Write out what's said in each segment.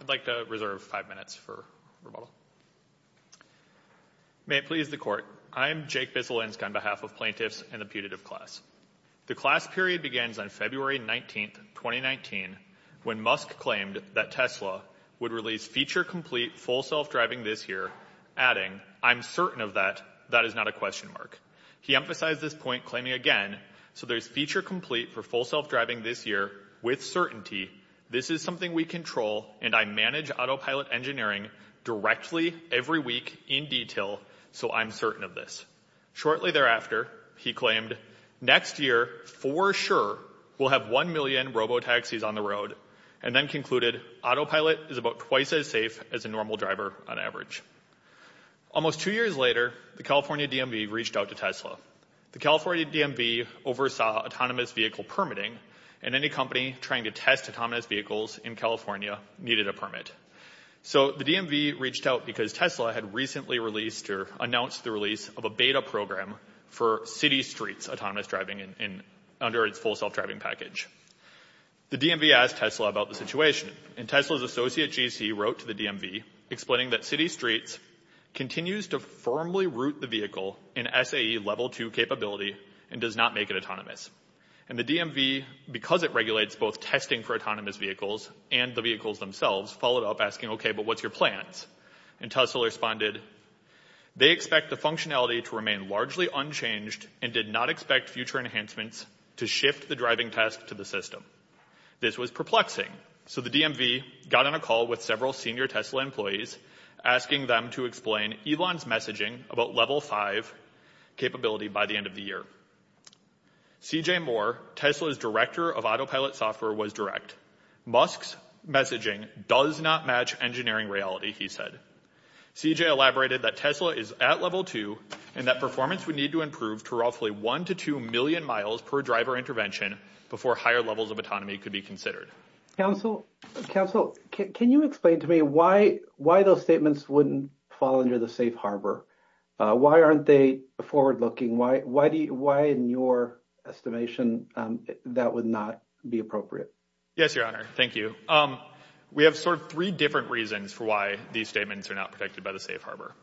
I'd like to reserve five minutes for rebuttal. May it please the Court, I am Jake Bislinsk on behalf of plaintiffs and the putative class. The class period begins on February 19th, 2019, when Musk claimed that Tesla would release feature-complete full self-driving this year, adding, I'm certain of that, that is not a question mark. He emphasized this point, claiming again, so there's feature-complete for full self-driving this year with certainty, this is something we control and I manage autopilot engineering directly every week in detail, so I'm certain of this. Shortly thereafter, he claimed, next year, for sure, we'll have 1 million robo-taxis on the road, and then concluded, autopilot is about twice as safe as a normal driver on average. Almost two years later, the California DMV reached out to Tesla. The California DMV oversaw autonomous vehicle permitting, and any company trying to test autonomous vehicles in California needed a permit. So the DMV reached out because Tesla had recently released or announced the release of a beta program for city streets autonomous driving under its full self-driving package. The DMV asked Tesla about the situation, and Tesla's associate GC wrote to the DMV explaining that city streets continues to firmly root the vehicle in SAE level two capability and does not make it autonomous. And the DMV, because it regulates both testing for autonomous vehicles and the vehicles themselves, followed up asking, okay, but what's your plans? And Tesla responded, they expect the functionality to remain largely unchanged and did not expect future enhancements to shift the driving test to the system. This was perplexing. So the DMV got on a call with several senior Tesla employees, asking them to explain Elon's messaging about level five capability by the end of the year. CJ Moore, Tesla's director of autopilot software, was direct. Musk's messaging does not match engineering reality, he said. CJ elaborated that Tesla is at level two and that performance would need to improve to roughly one to two million miles per driver intervention before higher levels of autonomy could be considered. Council, can you explain to me why those statements wouldn't fall under the safe harbor? Why aren't they forward-looking? Why in your estimation that would not be appropriate? Yes, your honor. Thank you. We have sort of three different reasons for why these statements are not protected by the safe harbor.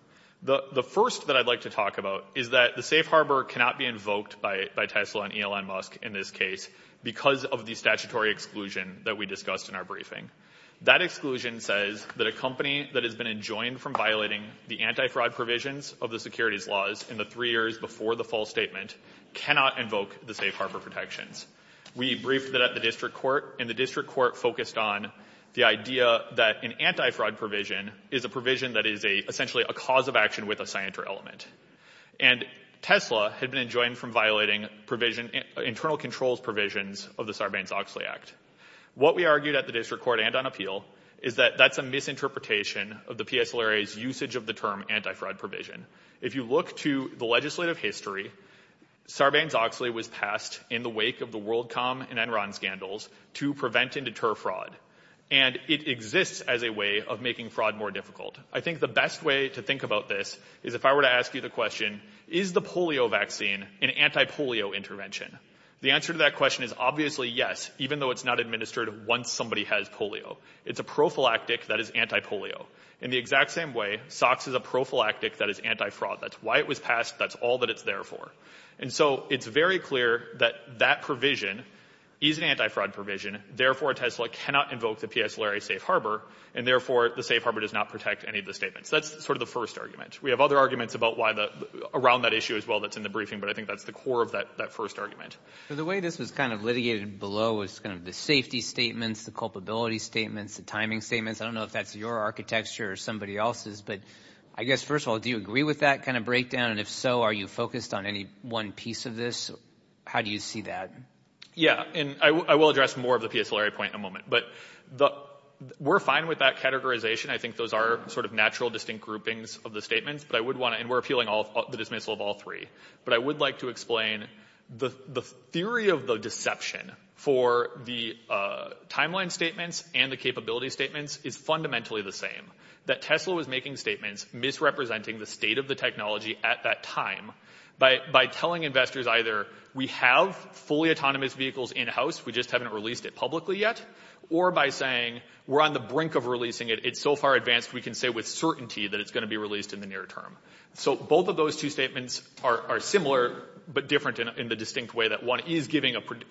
The first that I'd like to talk about is that the safe harbor cannot be invoked by Tesla and Elon Musk in this case because of the statutory exclusion that we discussed in our briefing. That exclusion says that a company that has been enjoined from violating the anti-fraud provisions of the securities laws in the three years before the full statement cannot invoke the safe harbor protections. We briefed that at the district court and the district court focused on the idea that an anti-fraud provision is a provision that is a essentially a cause of action with a scienter element and Tesla had been enjoined from violating provision internal controls provisions of the Sarbanes-Oxley Act. What we argued at the district court and on appeal is that that's a misinterpretation of the PSLRA's usage of the term anti-fraud provision. If you look to the legislative history Sarbanes-Oxley was passed in the wake of the WorldCom and Enron scandals to prevent and deter fraud and it exists as a way of making fraud more difficult. I think the best way to think about this is if I were to ask you the question is the polio vaccine an anti-polio intervention? The answer to that question is obviously yes even though it's not administered once somebody has polio. It's a prophylactic that is anti-polio in the exact same way SOX is a prophylactic that is anti-fraud. That's why it was passed that's all that it's there for and so it's very clear that that provision is an anti-fraud provision therefore Tesla cannot invoke the PSLRA safe harbor and therefore the safe harbor does not protect any of the statements. That's sort of the first argument. We have other arguments about why the around that issue as well that's in the briefing but I think that's the core of that that first argument. So the way this was kind of litigated below was kind of the safety statements the culpability statements the timing statements I don't know if that's your architecture or somebody else's but I guess first of all do you agree with that kind of breakdown and if so are you focused on any one piece of this how do you see that? Yeah and I will address more of the PSLRA point in a moment but the we're fine with that categorization I think those are sort of natural distinct groupings of the statements but I would want to and we're appealing all the dismissal of all three but I would like to explain the the theory of the deception for the timeline statements and the capability statements is fundamentally the same that Tesla was making statements misrepresenting the state of the technology at that time by by telling investors either we have fully autonomous vehicles in-house we just haven't released it publicly yet or by saying we're on the brink of releasing it it's so far advanced we can say with certainty that it's going to be released in the near term so both of those two statements are similar but different in the distinct way that one is giving a pretty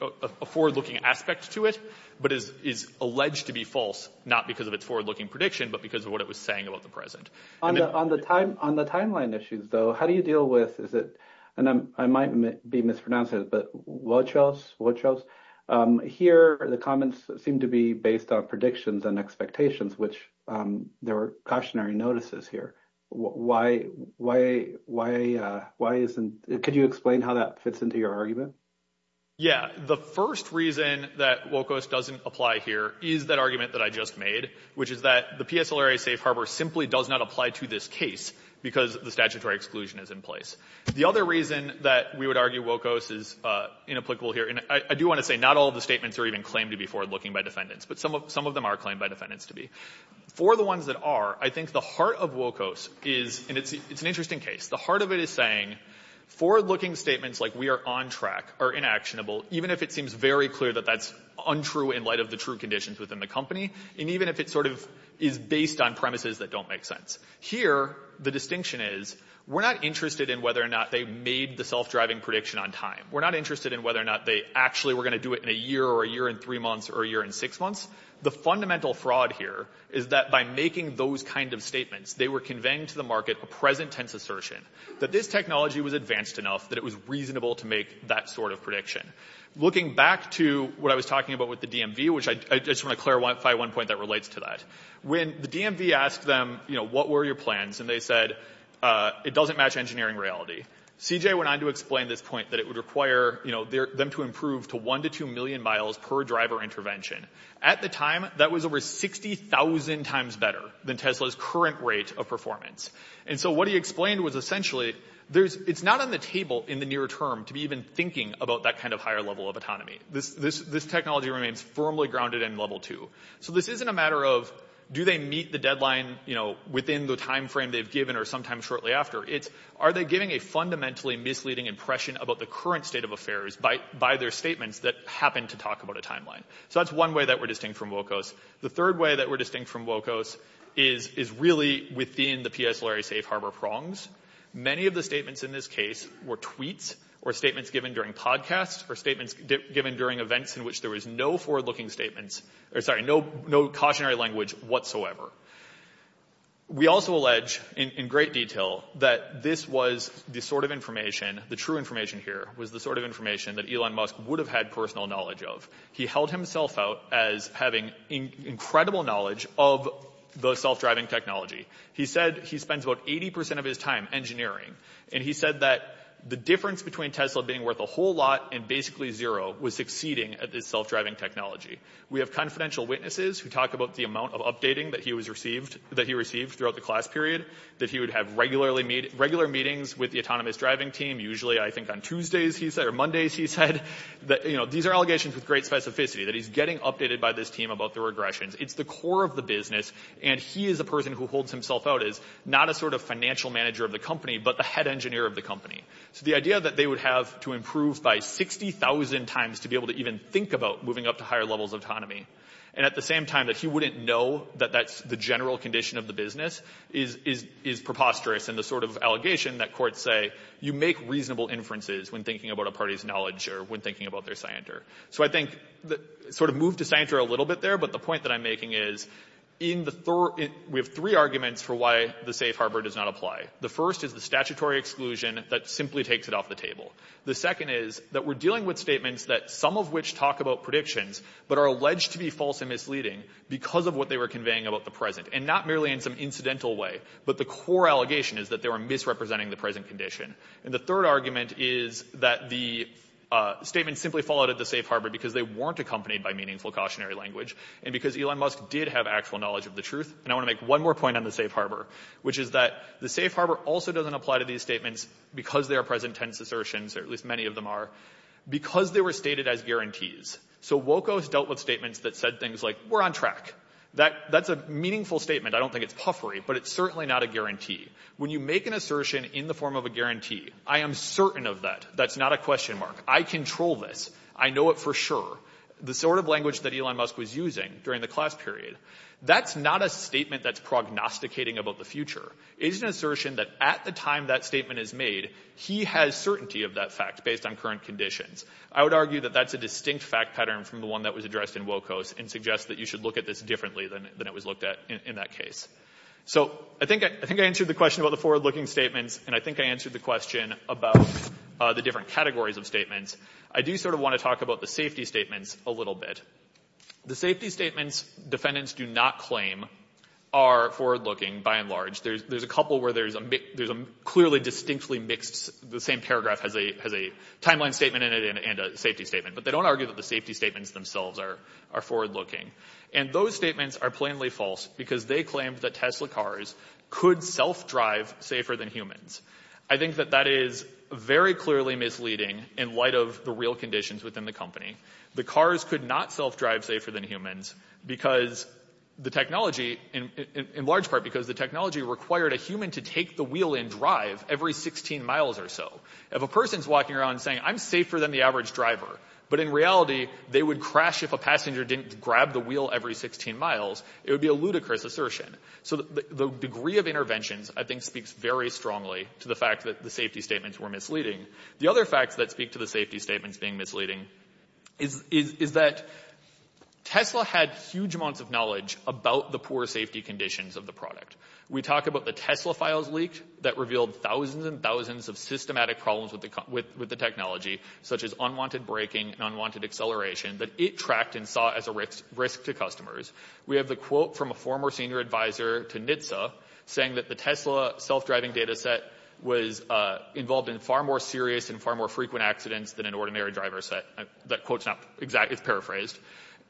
forward-looking aspect to it but is alleged to be false not because of its forward-looking prediction but because of what it was saying about the present. On the time on the timeline issues though how do you deal with is it and I might be mispronouncing it but what else what else here the comments seem to be based on predictions and expectations which there were cautionary notices here why why why why isn't it could you explain how that fits into your argument? Yeah the first reason that WOCOS doesn't apply here is that argument that I just made which is that the PSLRA Safe Harbor simply does not apply to this case because the statutory exclusion is in place. The other reason that we would argue WOCOS is inapplicable here and I do want to say not all of the statements are even claimed to be forward-looking by defendants but some of some of them are claimed by defendants to be. For the ones that are I think the heart of WOCOS is and it's it's an interesting case the heart of it is saying forward-looking statements like we are on track are inactionable even if it seems very clear that that's untrue in light of the true conditions within the company and even if it sort of is based on premises that don't make sense. Here the distinction is we're not interested in whether or not they made the self-driving prediction on time. We're not interested in whether or not they actually were going to do it in a year or a year in three months or a year in six months. The fundamental fraud here is that by making those kind of statements they were conveying to the market a present tense assertion that this technology was advanced enough that it was reasonable to make that sort of prediction. Looking back to what I was talking about with the DMV which I just want to clarify one point that relates to that. When the DMV asked them you know what were your plans and they said it doesn't match engineering reality. CJ went on to explain this point that it would require you know there them to improve to 1 to 2 million miles per driver intervention. At the time that was over 60,000 times better than Tesla's current rate of performance and so what he explained was essentially there's it's not on the table in the term to be even thinking about that kind of higher level of autonomy. This technology remains firmly grounded in level 2. So this isn't a matter of do they meet the deadline you know within the time frame they've given or sometime shortly after. It's are they giving a fundamentally misleading impression about the current state of affairs by their statements that happen to talk about a timeline. So that's one way that we're distinct from WOCOS. The third way that we're distinct from WOCOS is really within the PSLRA safe harbor prongs. Many of the statements in this case were tweets or statements given during podcasts or statements given during events in which there was no forward-looking statements or sorry no cautionary language whatsoever. We also allege in great detail that this was the sort of information the true information here was the sort of information that Elon Musk would have had personal knowledge of. He held himself out as having incredible knowledge of the self-driving technology. He said he spends about 80% of his time engineering and he said that the difference between Tesla being worth a whole lot and basically zero was succeeding at this self-driving technology. We have confidential witnesses who talk about the amount of updating that he was received that he received throughout the class period that he would have regularly made regular meetings with the autonomous driving team usually I think on Tuesdays he said or Mondays he said that you know these are allegations with great specificity that he's getting updated by this team about the regressions. It's the core of the and he is a person who holds himself out as not a sort of financial manager of the company but the head engineer of the company. So the idea that they would have to improve by 60,000 times to be able to even think about moving up to higher levels of autonomy and at the same time that he wouldn't know that that's the general condition of the business is preposterous and the sort of allegation that courts say you make reasonable inferences when thinking about a party's knowledge or when thinking about their scienter. So I think the sort of move to scienter a little bit there but the point that I'm making is in the third we have three arguments for why the safe harbor does not apply. The first is the statutory exclusion that simply takes it off the table. The second is that we're dealing with statements that some of which talk about predictions but are alleged to be false and misleading because of what they were conveying about the present and not merely in some incidental way but the core allegation is that they were misrepresenting the present condition. And the third argument is that the statement simply followed at the safe harbor because they weren't accompanied by meaningful cautionary language and because Elon Musk did have actual knowledge of the truth. And I want to make one more point on the safe harbor which is that the safe harbor also doesn't apply to these statements because they are present tense assertions or at least many of them are because they were stated as guarantees. So WOCO has dealt with statements that said things like we're on track. That's a meaningful statement. I don't think it's puffery but it's certainly not a guarantee. When you make an assertion in the form of a guarantee, I am certain of that. That's not a question mark. I control this. I know it for sure. The sort of language that Elon Musk was using during the class period, that's not a statement that's prognosticating about the future. It's an assertion that at the time that statement is made, he has certainty of that fact based on current conditions. I would argue that that's a distinct fact pattern from the one that was addressed in WOCO and suggests that you should look at this differently than it was looked at in that case. So I think I answered the question about the forward looking statements and I think I answered the question about the different categories of statements. I do sort of want to talk about the safety statements a little bit. The safety statements defendants do not claim are forward looking by and large. There's a couple where there's a clearly distinctly mixed, the same paragraph has a timeline statement in it and a safety statement. But they don't argue that the safety statements themselves are forward looking. And those statements are plainly false because they claim that Tesla cars could self-drive safer than humans. I think that that is very clearly misleading in light of the real conditions within the company. The cars could not self-drive safer than humans because the technology, in large part because the technology required a human to take the wheel and drive every 16 miles or so. If a person's walking around saying, I'm safer than the average driver, but in reality they would crash if a passenger didn't grab the wheel every 16 miles, it would be a ludicrous assertion. So the degree of interventions I think speaks very strongly to the fact that the safety statements were misleading. The other facts that speak to the safety statements being misleading is that Tesla had huge amounts of knowledge about the poor safety conditions of the product. We talk about the Tesla files leaked that revealed thousands and thousands of systematic problems with the technology such as unwanted braking and unwanted acceleration that it tracked and saw as a risk to customers. We have the quote from a former senior advisor to NHTSA saying that the Tesla self-driving data set was involved in far more serious and far more frequent accidents than an ordinary driver set. That quote's not exactly, it's paraphrased.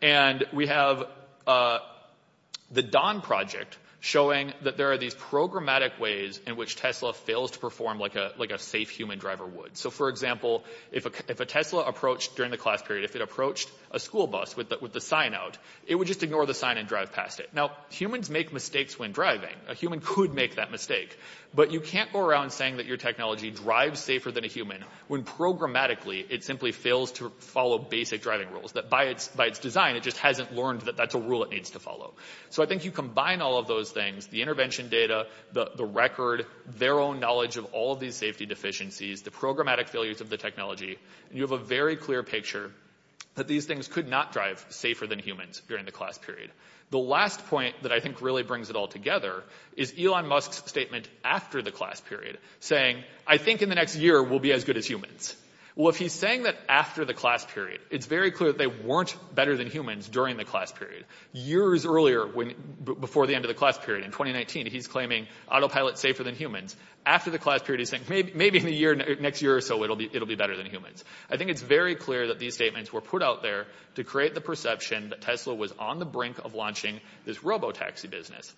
And we have the Don project showing that there are these programmatic ways in which Tesla fails to perform like a safe human driver would. So for example, if a Tesla approached during the class period, if it approached a school bus with the sign out, it would just ignore the sign and drive past it. Now, humans make mistakes when driving. A human could make that mistake. But you can't go around saying that your technology drives safer than a human when programmatically it simply fails to follow basic driving rules. That by its design, it just hasn't learned that that's a rule it needs to follow. So I think you combine all of those things, the intervention data, the record, their own knowledge of all of these safety deficiencies, the programmatic failures of the technology, and you have a very clear picture that these things could not drive safer than humans during the class period. The last point that I think really brings it all together is Elon Musk's statement after the class period saying, I think in the next year we'll be as good as humans. Well, if he's saying that after the class period, it's very clear that they weren't better than humans during the class period. Years earlier, before the end of the class period in 2019, he's claiming autopilot safer than humans. After the class period, he's saying maybe in the next year or so, it'll be better than humans. I think it's very clear that these statements were put out there to create the perception that Tesla was on the brink of launching this robo-taxi business.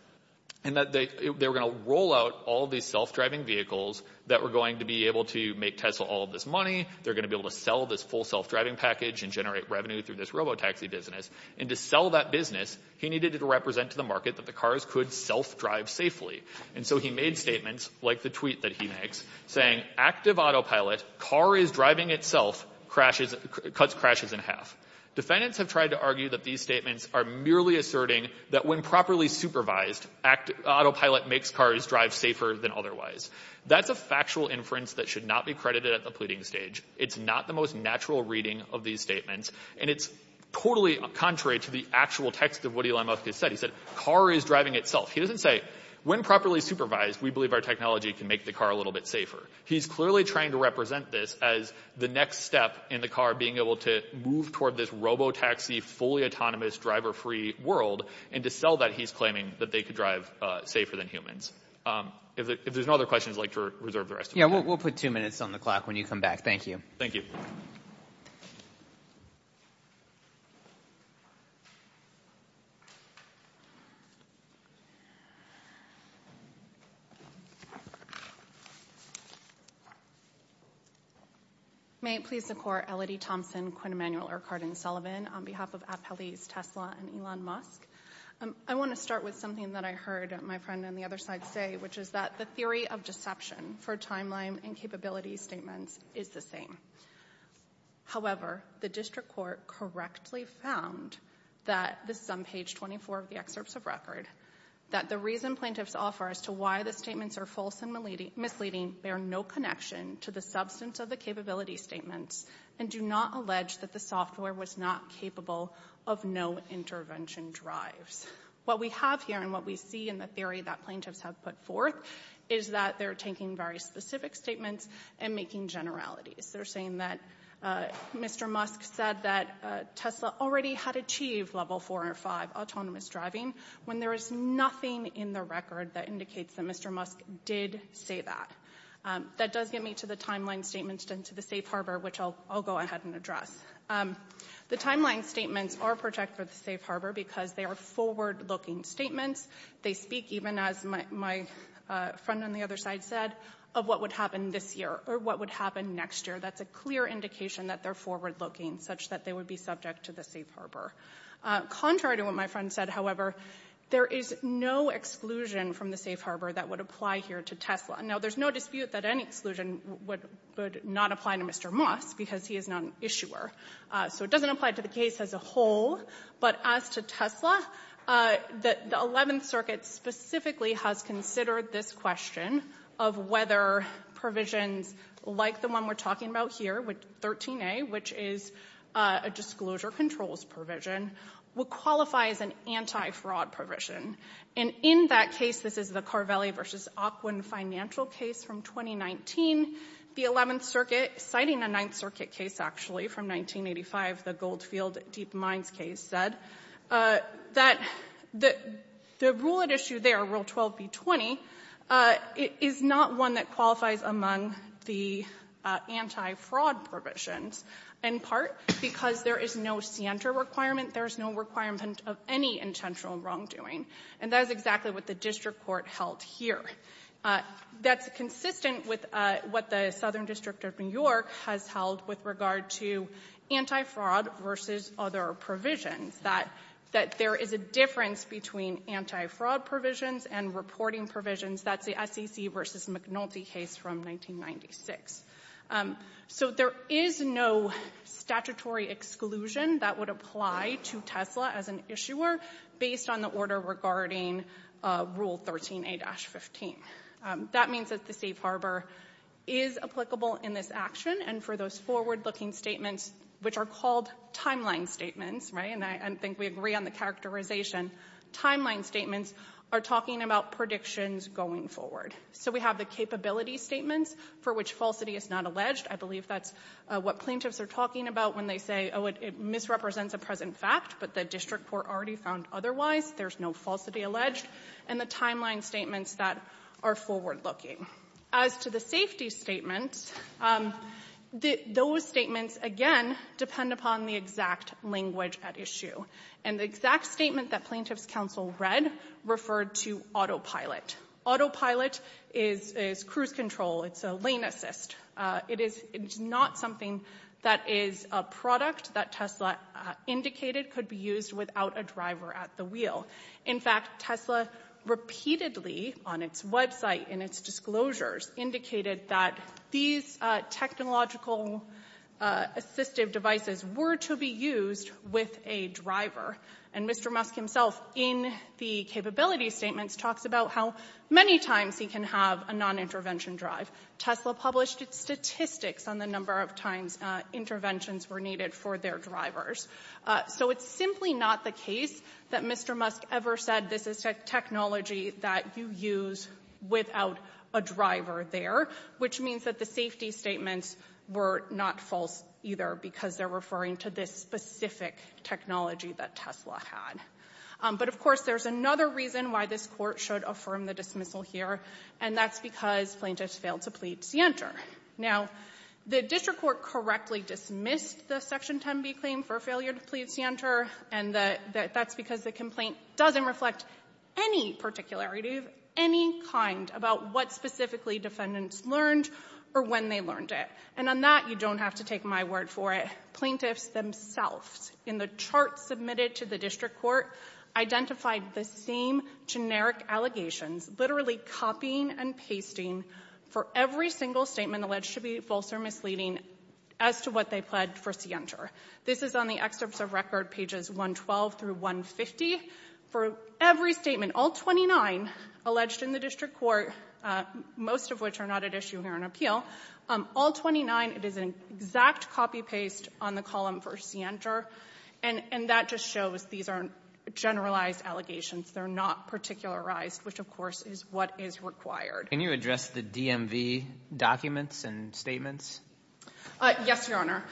And that they were going to roll out all these self-driving vehicles that were going to be able to make Tesla all of this money. They're going to be able to sell this full self-driving package and generate revenue through this robo-taxi business. And to sell that business, he needed it to represent to the market that the cars could self-drive safely. And so he made statements, like the tweet that he makes, saying, active autopilot, car is driving itself, cuts crashes in half. Defendants have tried to argue that these statements are merely asserting that when properly supervised, autopilot makes cars drive safer than otherwise. That's a factual inference that should not be credited at the pleading stage. It's not the most natural reading of these statements. And it's totally contrary to the actual text of what Elon Musk said. He said, car is driving itself. He doesn't say, when properly supervised, we believe our technology can make the car a little bit safer. He's clearly trying to represent this as the next step in the car being able to move toward this robo-taxi, fully autonomous, driver-free world. And to sell that, he's claiming that they could drive safer than humans. If there's no other questions, I'd like to reserve the rest of the time. Yeah, we'll put two minutes on the clock when you come back. Thank you. May it please the Court, Elodie Thompson, Quinn Emanuel, Irk Hardin-Sullivan, on behalf of Appellees Tesla and Elon Musk. I want to start with something that I heard my friend on the other side say, which is that the theory of deception for timeline and capability statements is the same. However, the district court correctly found that, this is on page 24 of the excerpts of record, that the reason plaintiffs offer as to why the statements are false and misleading bear no connection to the substance of the capability statements and do not allege that the software was not capable of no intervention drives. What we have here and what we see in the theory that plaintiffs have put forth is that they're taking very specific statements and making generalities. They're saying that Mr. Musk said that Tesla already had achieved level four or five autonomous driving when there is nothing in the record that indicates that Mr. Musk did say that. That does get me to the timeline statements and to the safe harbor, which I'll go ahead and address. The timeline statements are protected for the safe harbor because they are forward-looking statements. They speak even as my friend on the other side said, of what would happen this year or what would happen next year. That's a clear indication that they're forward-looking such that they would be subject to the safe harbor. Contrary to what my friend said, however, there is no exclusion from the safe harbor that would apply here to Tesla. Now, there's no dispute that any exclusion would not apply to Mr. Musk because he is not an issuer. So it doesn't apply to the case as a whole, but as to Tesla, the 11th Circuit specifically has considered this question of whether provisions like the one we're talking about here, 13A, which is a disclosure controls provision, would qualify as an anti-fraud provision. In that case, this is the Carvelli versus Aquin financial case from 2019. The 11th Circuit, citing a 9th Circuit case actually from 1985, the Goldfield Deep Mines case, said that the rule at issue there, Rule 12b-20, is not one that qualifies among the anti-fraud provisions, in part because there is no scienter requirement. There is no requirement of any intentional wrongdoing. And that is exactly what the district court held here. That's consistent with what the Southern District of New York has held with regard to anti-fraud versus other provisions, that there is a difference between anti-fraud provisions and reporting provisions. That's the SEC versus McNulty case from 1996. So there is no statutory exclusion that would apply to Tesla as an issuer based on the is applicable in this action. And for those forward-looking statements, which are called timeline statements, right, and I think we agree on the characterization, timeline statements are talking about predictions going forward. So we have the capability statements for which falsity is not alleged. I believe that's what plaintiffs are talking about when they say, oh, it misrepresents a present fact, but the district court already found otherwise. There's no falsity alleged. And the timeline statements that are forward-looking. As to the safety statements, those statements, again, depend upon the exact language at issue. And the exact statement that plaintiffs' counsel read referred to autopilot. Autopilot is cruise control. It's a lane assist. It is not something that is a product that Tesla indicated could be used without a driver at the wheel. In fact, Tesla repeatedly, on its website, in its disclosures, indicated that these technological assistive devices were to be used with a driver. And Mr. Musk himself, in the capability statements, talks about how many times he can have a non-intervention drive. Tesla published statistics on the number of times interventions were needed for their drivers. So it's simply not the case that Mr. Musk ever said this is a technology that you use without a driver there, which means that the safety statements were not false either, because they're referring to this specific technology that Tesla had. But of course, there's another reason why this court should affirm the dismissal here, and that's because plaintiffs failed to plead scienter. Now, the district court correctly dismissed the Section 10b claim for failure to plead scienter, and that's because the complaint doesn't reflect any particularity of any kind about what specifically defendants learned or when they learned it. And on that, you don't have to take my word for it. Plaintiffs themselves, in the chart submitted to the district court, identified the same generic allegations, literally copying and pasting for every single statement alleged to be 112 through 150. For every statement, all 29 alleged in the district court, most of which are not at issue here in appeal, all 29, it is an exact copy-paste on the column for scienter. And that just shows these aren't generalized allegations. They're not particularized, which, of course, is what is required. Can you address the DMV documents and statements? Yes, Your Honor.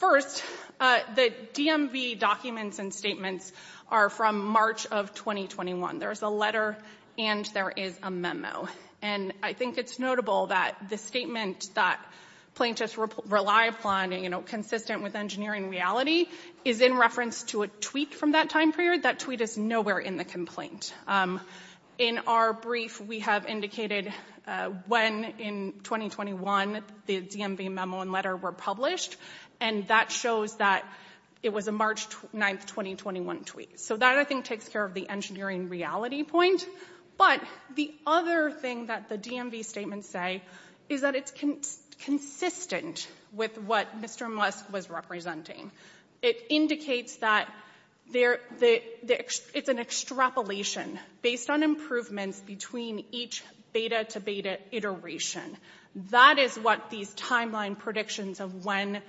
First, the DMV documents and statements are from March of 2021. There's a letter and there is a memo. And I think it's notable that the statement that plaintiffs rely upon, you know, consistent with engineering reality, is in reference to a tweet from that time period. That tweet is nowhere in the complaint. In our brief, we have indicated when in 2021 the DMV memo and letter were published. And that shows that it was a March 9, 2021 tweet. So that, I think, takes care of the engineering reality point. But the other thing that the DMV statements say is that it's consistent with what Mr. Musk was representing. It indicates that it's an extrapolation based on improvements between each beta-to-beta iteration. That is what these timeline predictions of when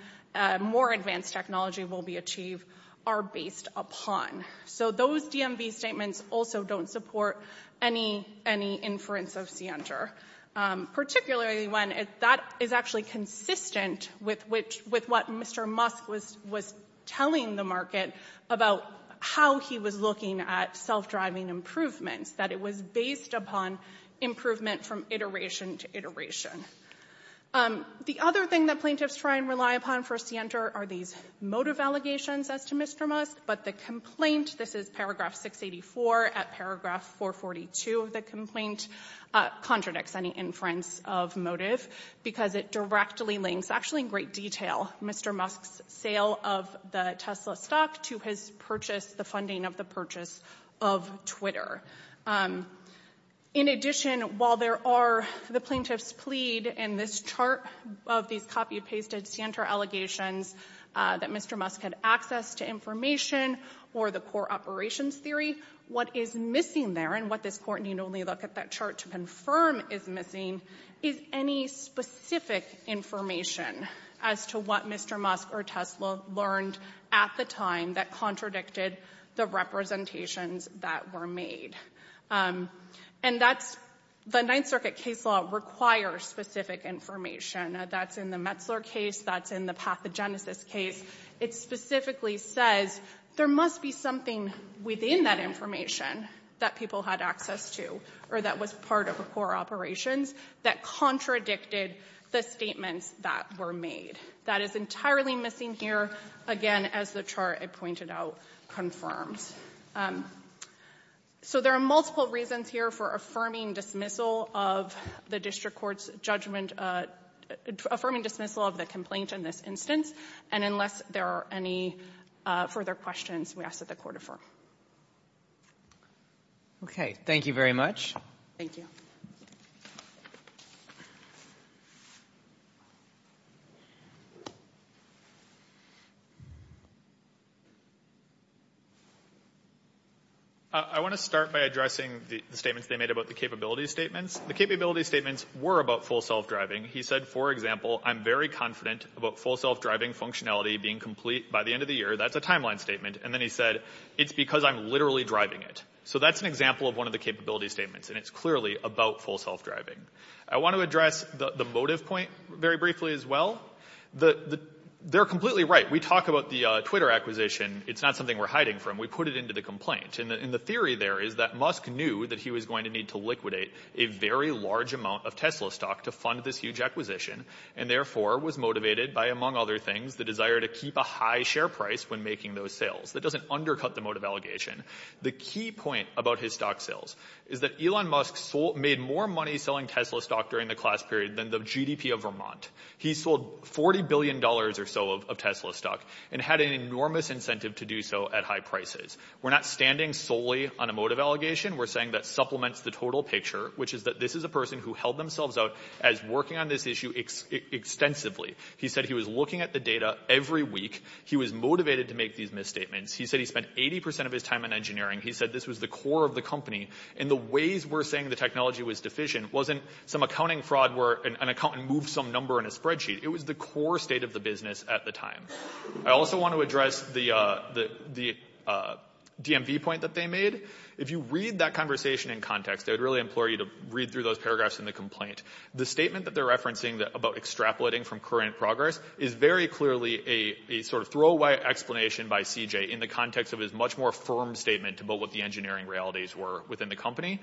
more advanced technology will be achieved are based upon. So those DMV statements also don't support any inference of scienter, particularly when that is actually consistent with what Mr. Musk was telling the market about how he was looking at self-driving improvements, that it was based upon improvement from iteration to iteration. The other thing that plaintiffs try and rely upon for scienter are these motive allegations as to Mr. Musk. But the complaint, this is paragraph 684 at paragraph 442 of the of motive because it directly links, actually in great detail, Mr. Musk's sale of the Tesla stock to his purchase, the funding of the purchase of Twitter. In addition, while there are, the plaintiffs plead in this chart of these copy-pasted scienter allegations that Mr. Musk had access to information or the core operations theory, what is missing there and what this court can only look at that chart to confirm is missing is any specific information as to what Mr. Musk or Tesla learned at the time that contradicted the representations that were made. And that's, the Ninth Circuit case law requires specific information. That's in the Metzler case, that's in the pathogenesis case. It specifically says there must be something within that information that people had access to or that was part of the core operations that contradicted the statements that were made. That is entirely missing here, again, as the chart I pointed out confirms. So there are multiple reasons here for affirming dismissal of the district court's judgment, affirming dismissal of the complaint in this instance. And unless there are any further questions, we ask that the court affirm. Okay, thank you very much. Thank you. I want to start by addressing the statements they made about the capability statements. The capability statements were about full self-driving. He said, for example, I'm very confident about full self-driving functionality being complete by the end of the year. That's a timeline statement. And then he said, it's because I'm literally driving it. So that's an example of one of the capability statements. And it's clearly about full self-driving. I want to address the motive point very briefly as well. They're completely right. We talk about the Twitter acquisition. It's not something we're hiding from. We put it into the complaint. And the theory there is that Musk knew that he was going to need to liquidate a very large amount of Tesla stock to fund this acquisition. And therefore, was motivated by, among other things, the desire to keep a high share price when making those sales. That doesn't undercut the motive allegation. The key point about his stock sales is that Elon Musk made more money selling Tesla stock during the class period than the GDP of Vermont. He sold $40 billion or so of Tesla stock and had an enormous incentive to do so at high prices. We're not standing solely on a motive allegation. We're saying that supplements the total picture, which is that this is a person who held themselves out as working on this issue extensively. He said he was looking at the data every week. He was motivated to make these misstatements. He said he spent 80% of his time in engineering. He said this was the core of the company. And the ways we're saying the technology was deficient wasn't some accounting fraud where an accountant moved some number in a spreadsheet. It was the core state of the business at the time. I also want to address the DMV point that they made. If you read that conversation in context, I would really implore you to read through those paragraphs in the complaint. The statement that they're referencing about extrapolating from current progress is very clearly a throwaway explanation by CJ in the context of his much more firm statement about what the engineering realities were within the company.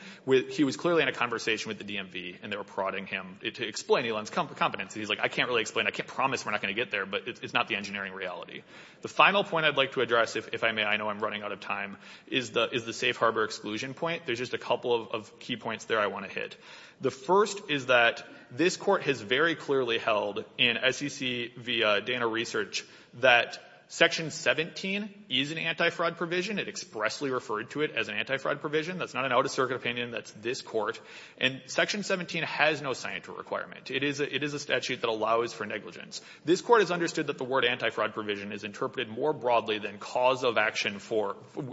He was clearly in a conversation with the DMV and they were prodding him to explain Elon's competency. He's like, I can't really explain. I can't promise we're not going to get there, but it's not the engineering reality. The final point I'd like to address, if I may, I know I'm running out of time, is the safe harbor exclusion point. There's just a couple of key points there I want to hit. The first is that this court has very clearly held in SEC via Dana Research that Section 17 is an anti-fraud provision. It expressly referred to it as an anti-fraud provision. That's not an out-of-circuit opinion. That's this court. And Section 17 has no requirement. It is a statute that allows for negligence. This court has understood that the word anti-fraud provision is interpreted more broadly than cause of action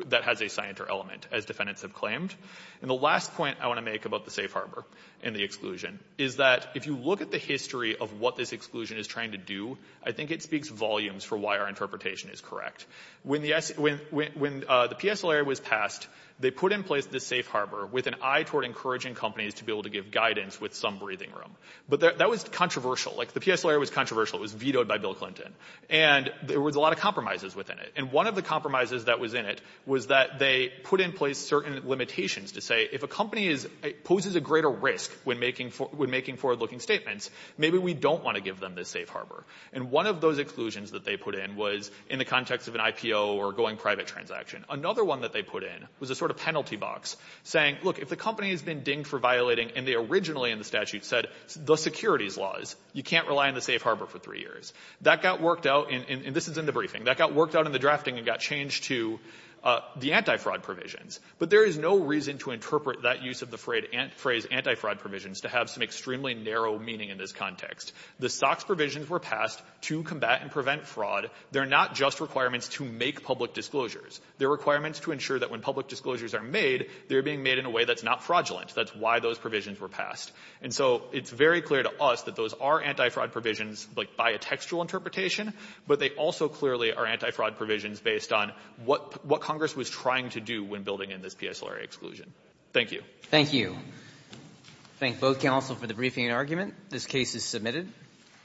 that has a scienter element, as defendants have claimed. And the last point I want to make about the safe harbor and the exclusion is that if you look at the history of what this exclusion is trying to do, I think it speaks volumes for why our interpretation is correct. When the PSLA was passed, they put in place this safe harbor with an eye toward encouraging companies to be able to give guidance with some breathing room. But that was controversial. Like, the PSLA was controversial. It was vetoed by Bill Clinton. And there was a lot of compromises within it. And one of the compromises that was in it was that they put in place certain limitations to say if a company poses a greater risk when making forward-looking statements, maybe we don't want to give them this safe harbor. And one of those exclusions that they put in was in the context of an IPO or going private transaction. Another one that they put in was a sort of penalty box saying, look, if the company has been dinged for violating, and they originally in the statute said the securities laws, you can't rely on the safe harbor for three years. That got worked out. And this is in the briefing. That got worked out in the drafting and got changed to the antifraud provisions. But there is no reason to interpret that use of the phrase antifraud provisions to have some extremely narrow meaning in this context. The SOX provisions were passed to combat and prevent fraud. They're not just requirements to make public disclosures. They're requirements to ensure that when public disclosures are made, they're being made in a way that's not fraudulent. That's why those provisions were passed. And so it's very clear to us that those are antifraud provisions, like, by a textual interpretation, but they also clearly are antifraud provisions based on what Congress was trying to do when building in this PSLRA exclusion. Thank you. Thank you. Thank both counsel for the briefing and argument. This case is submitted.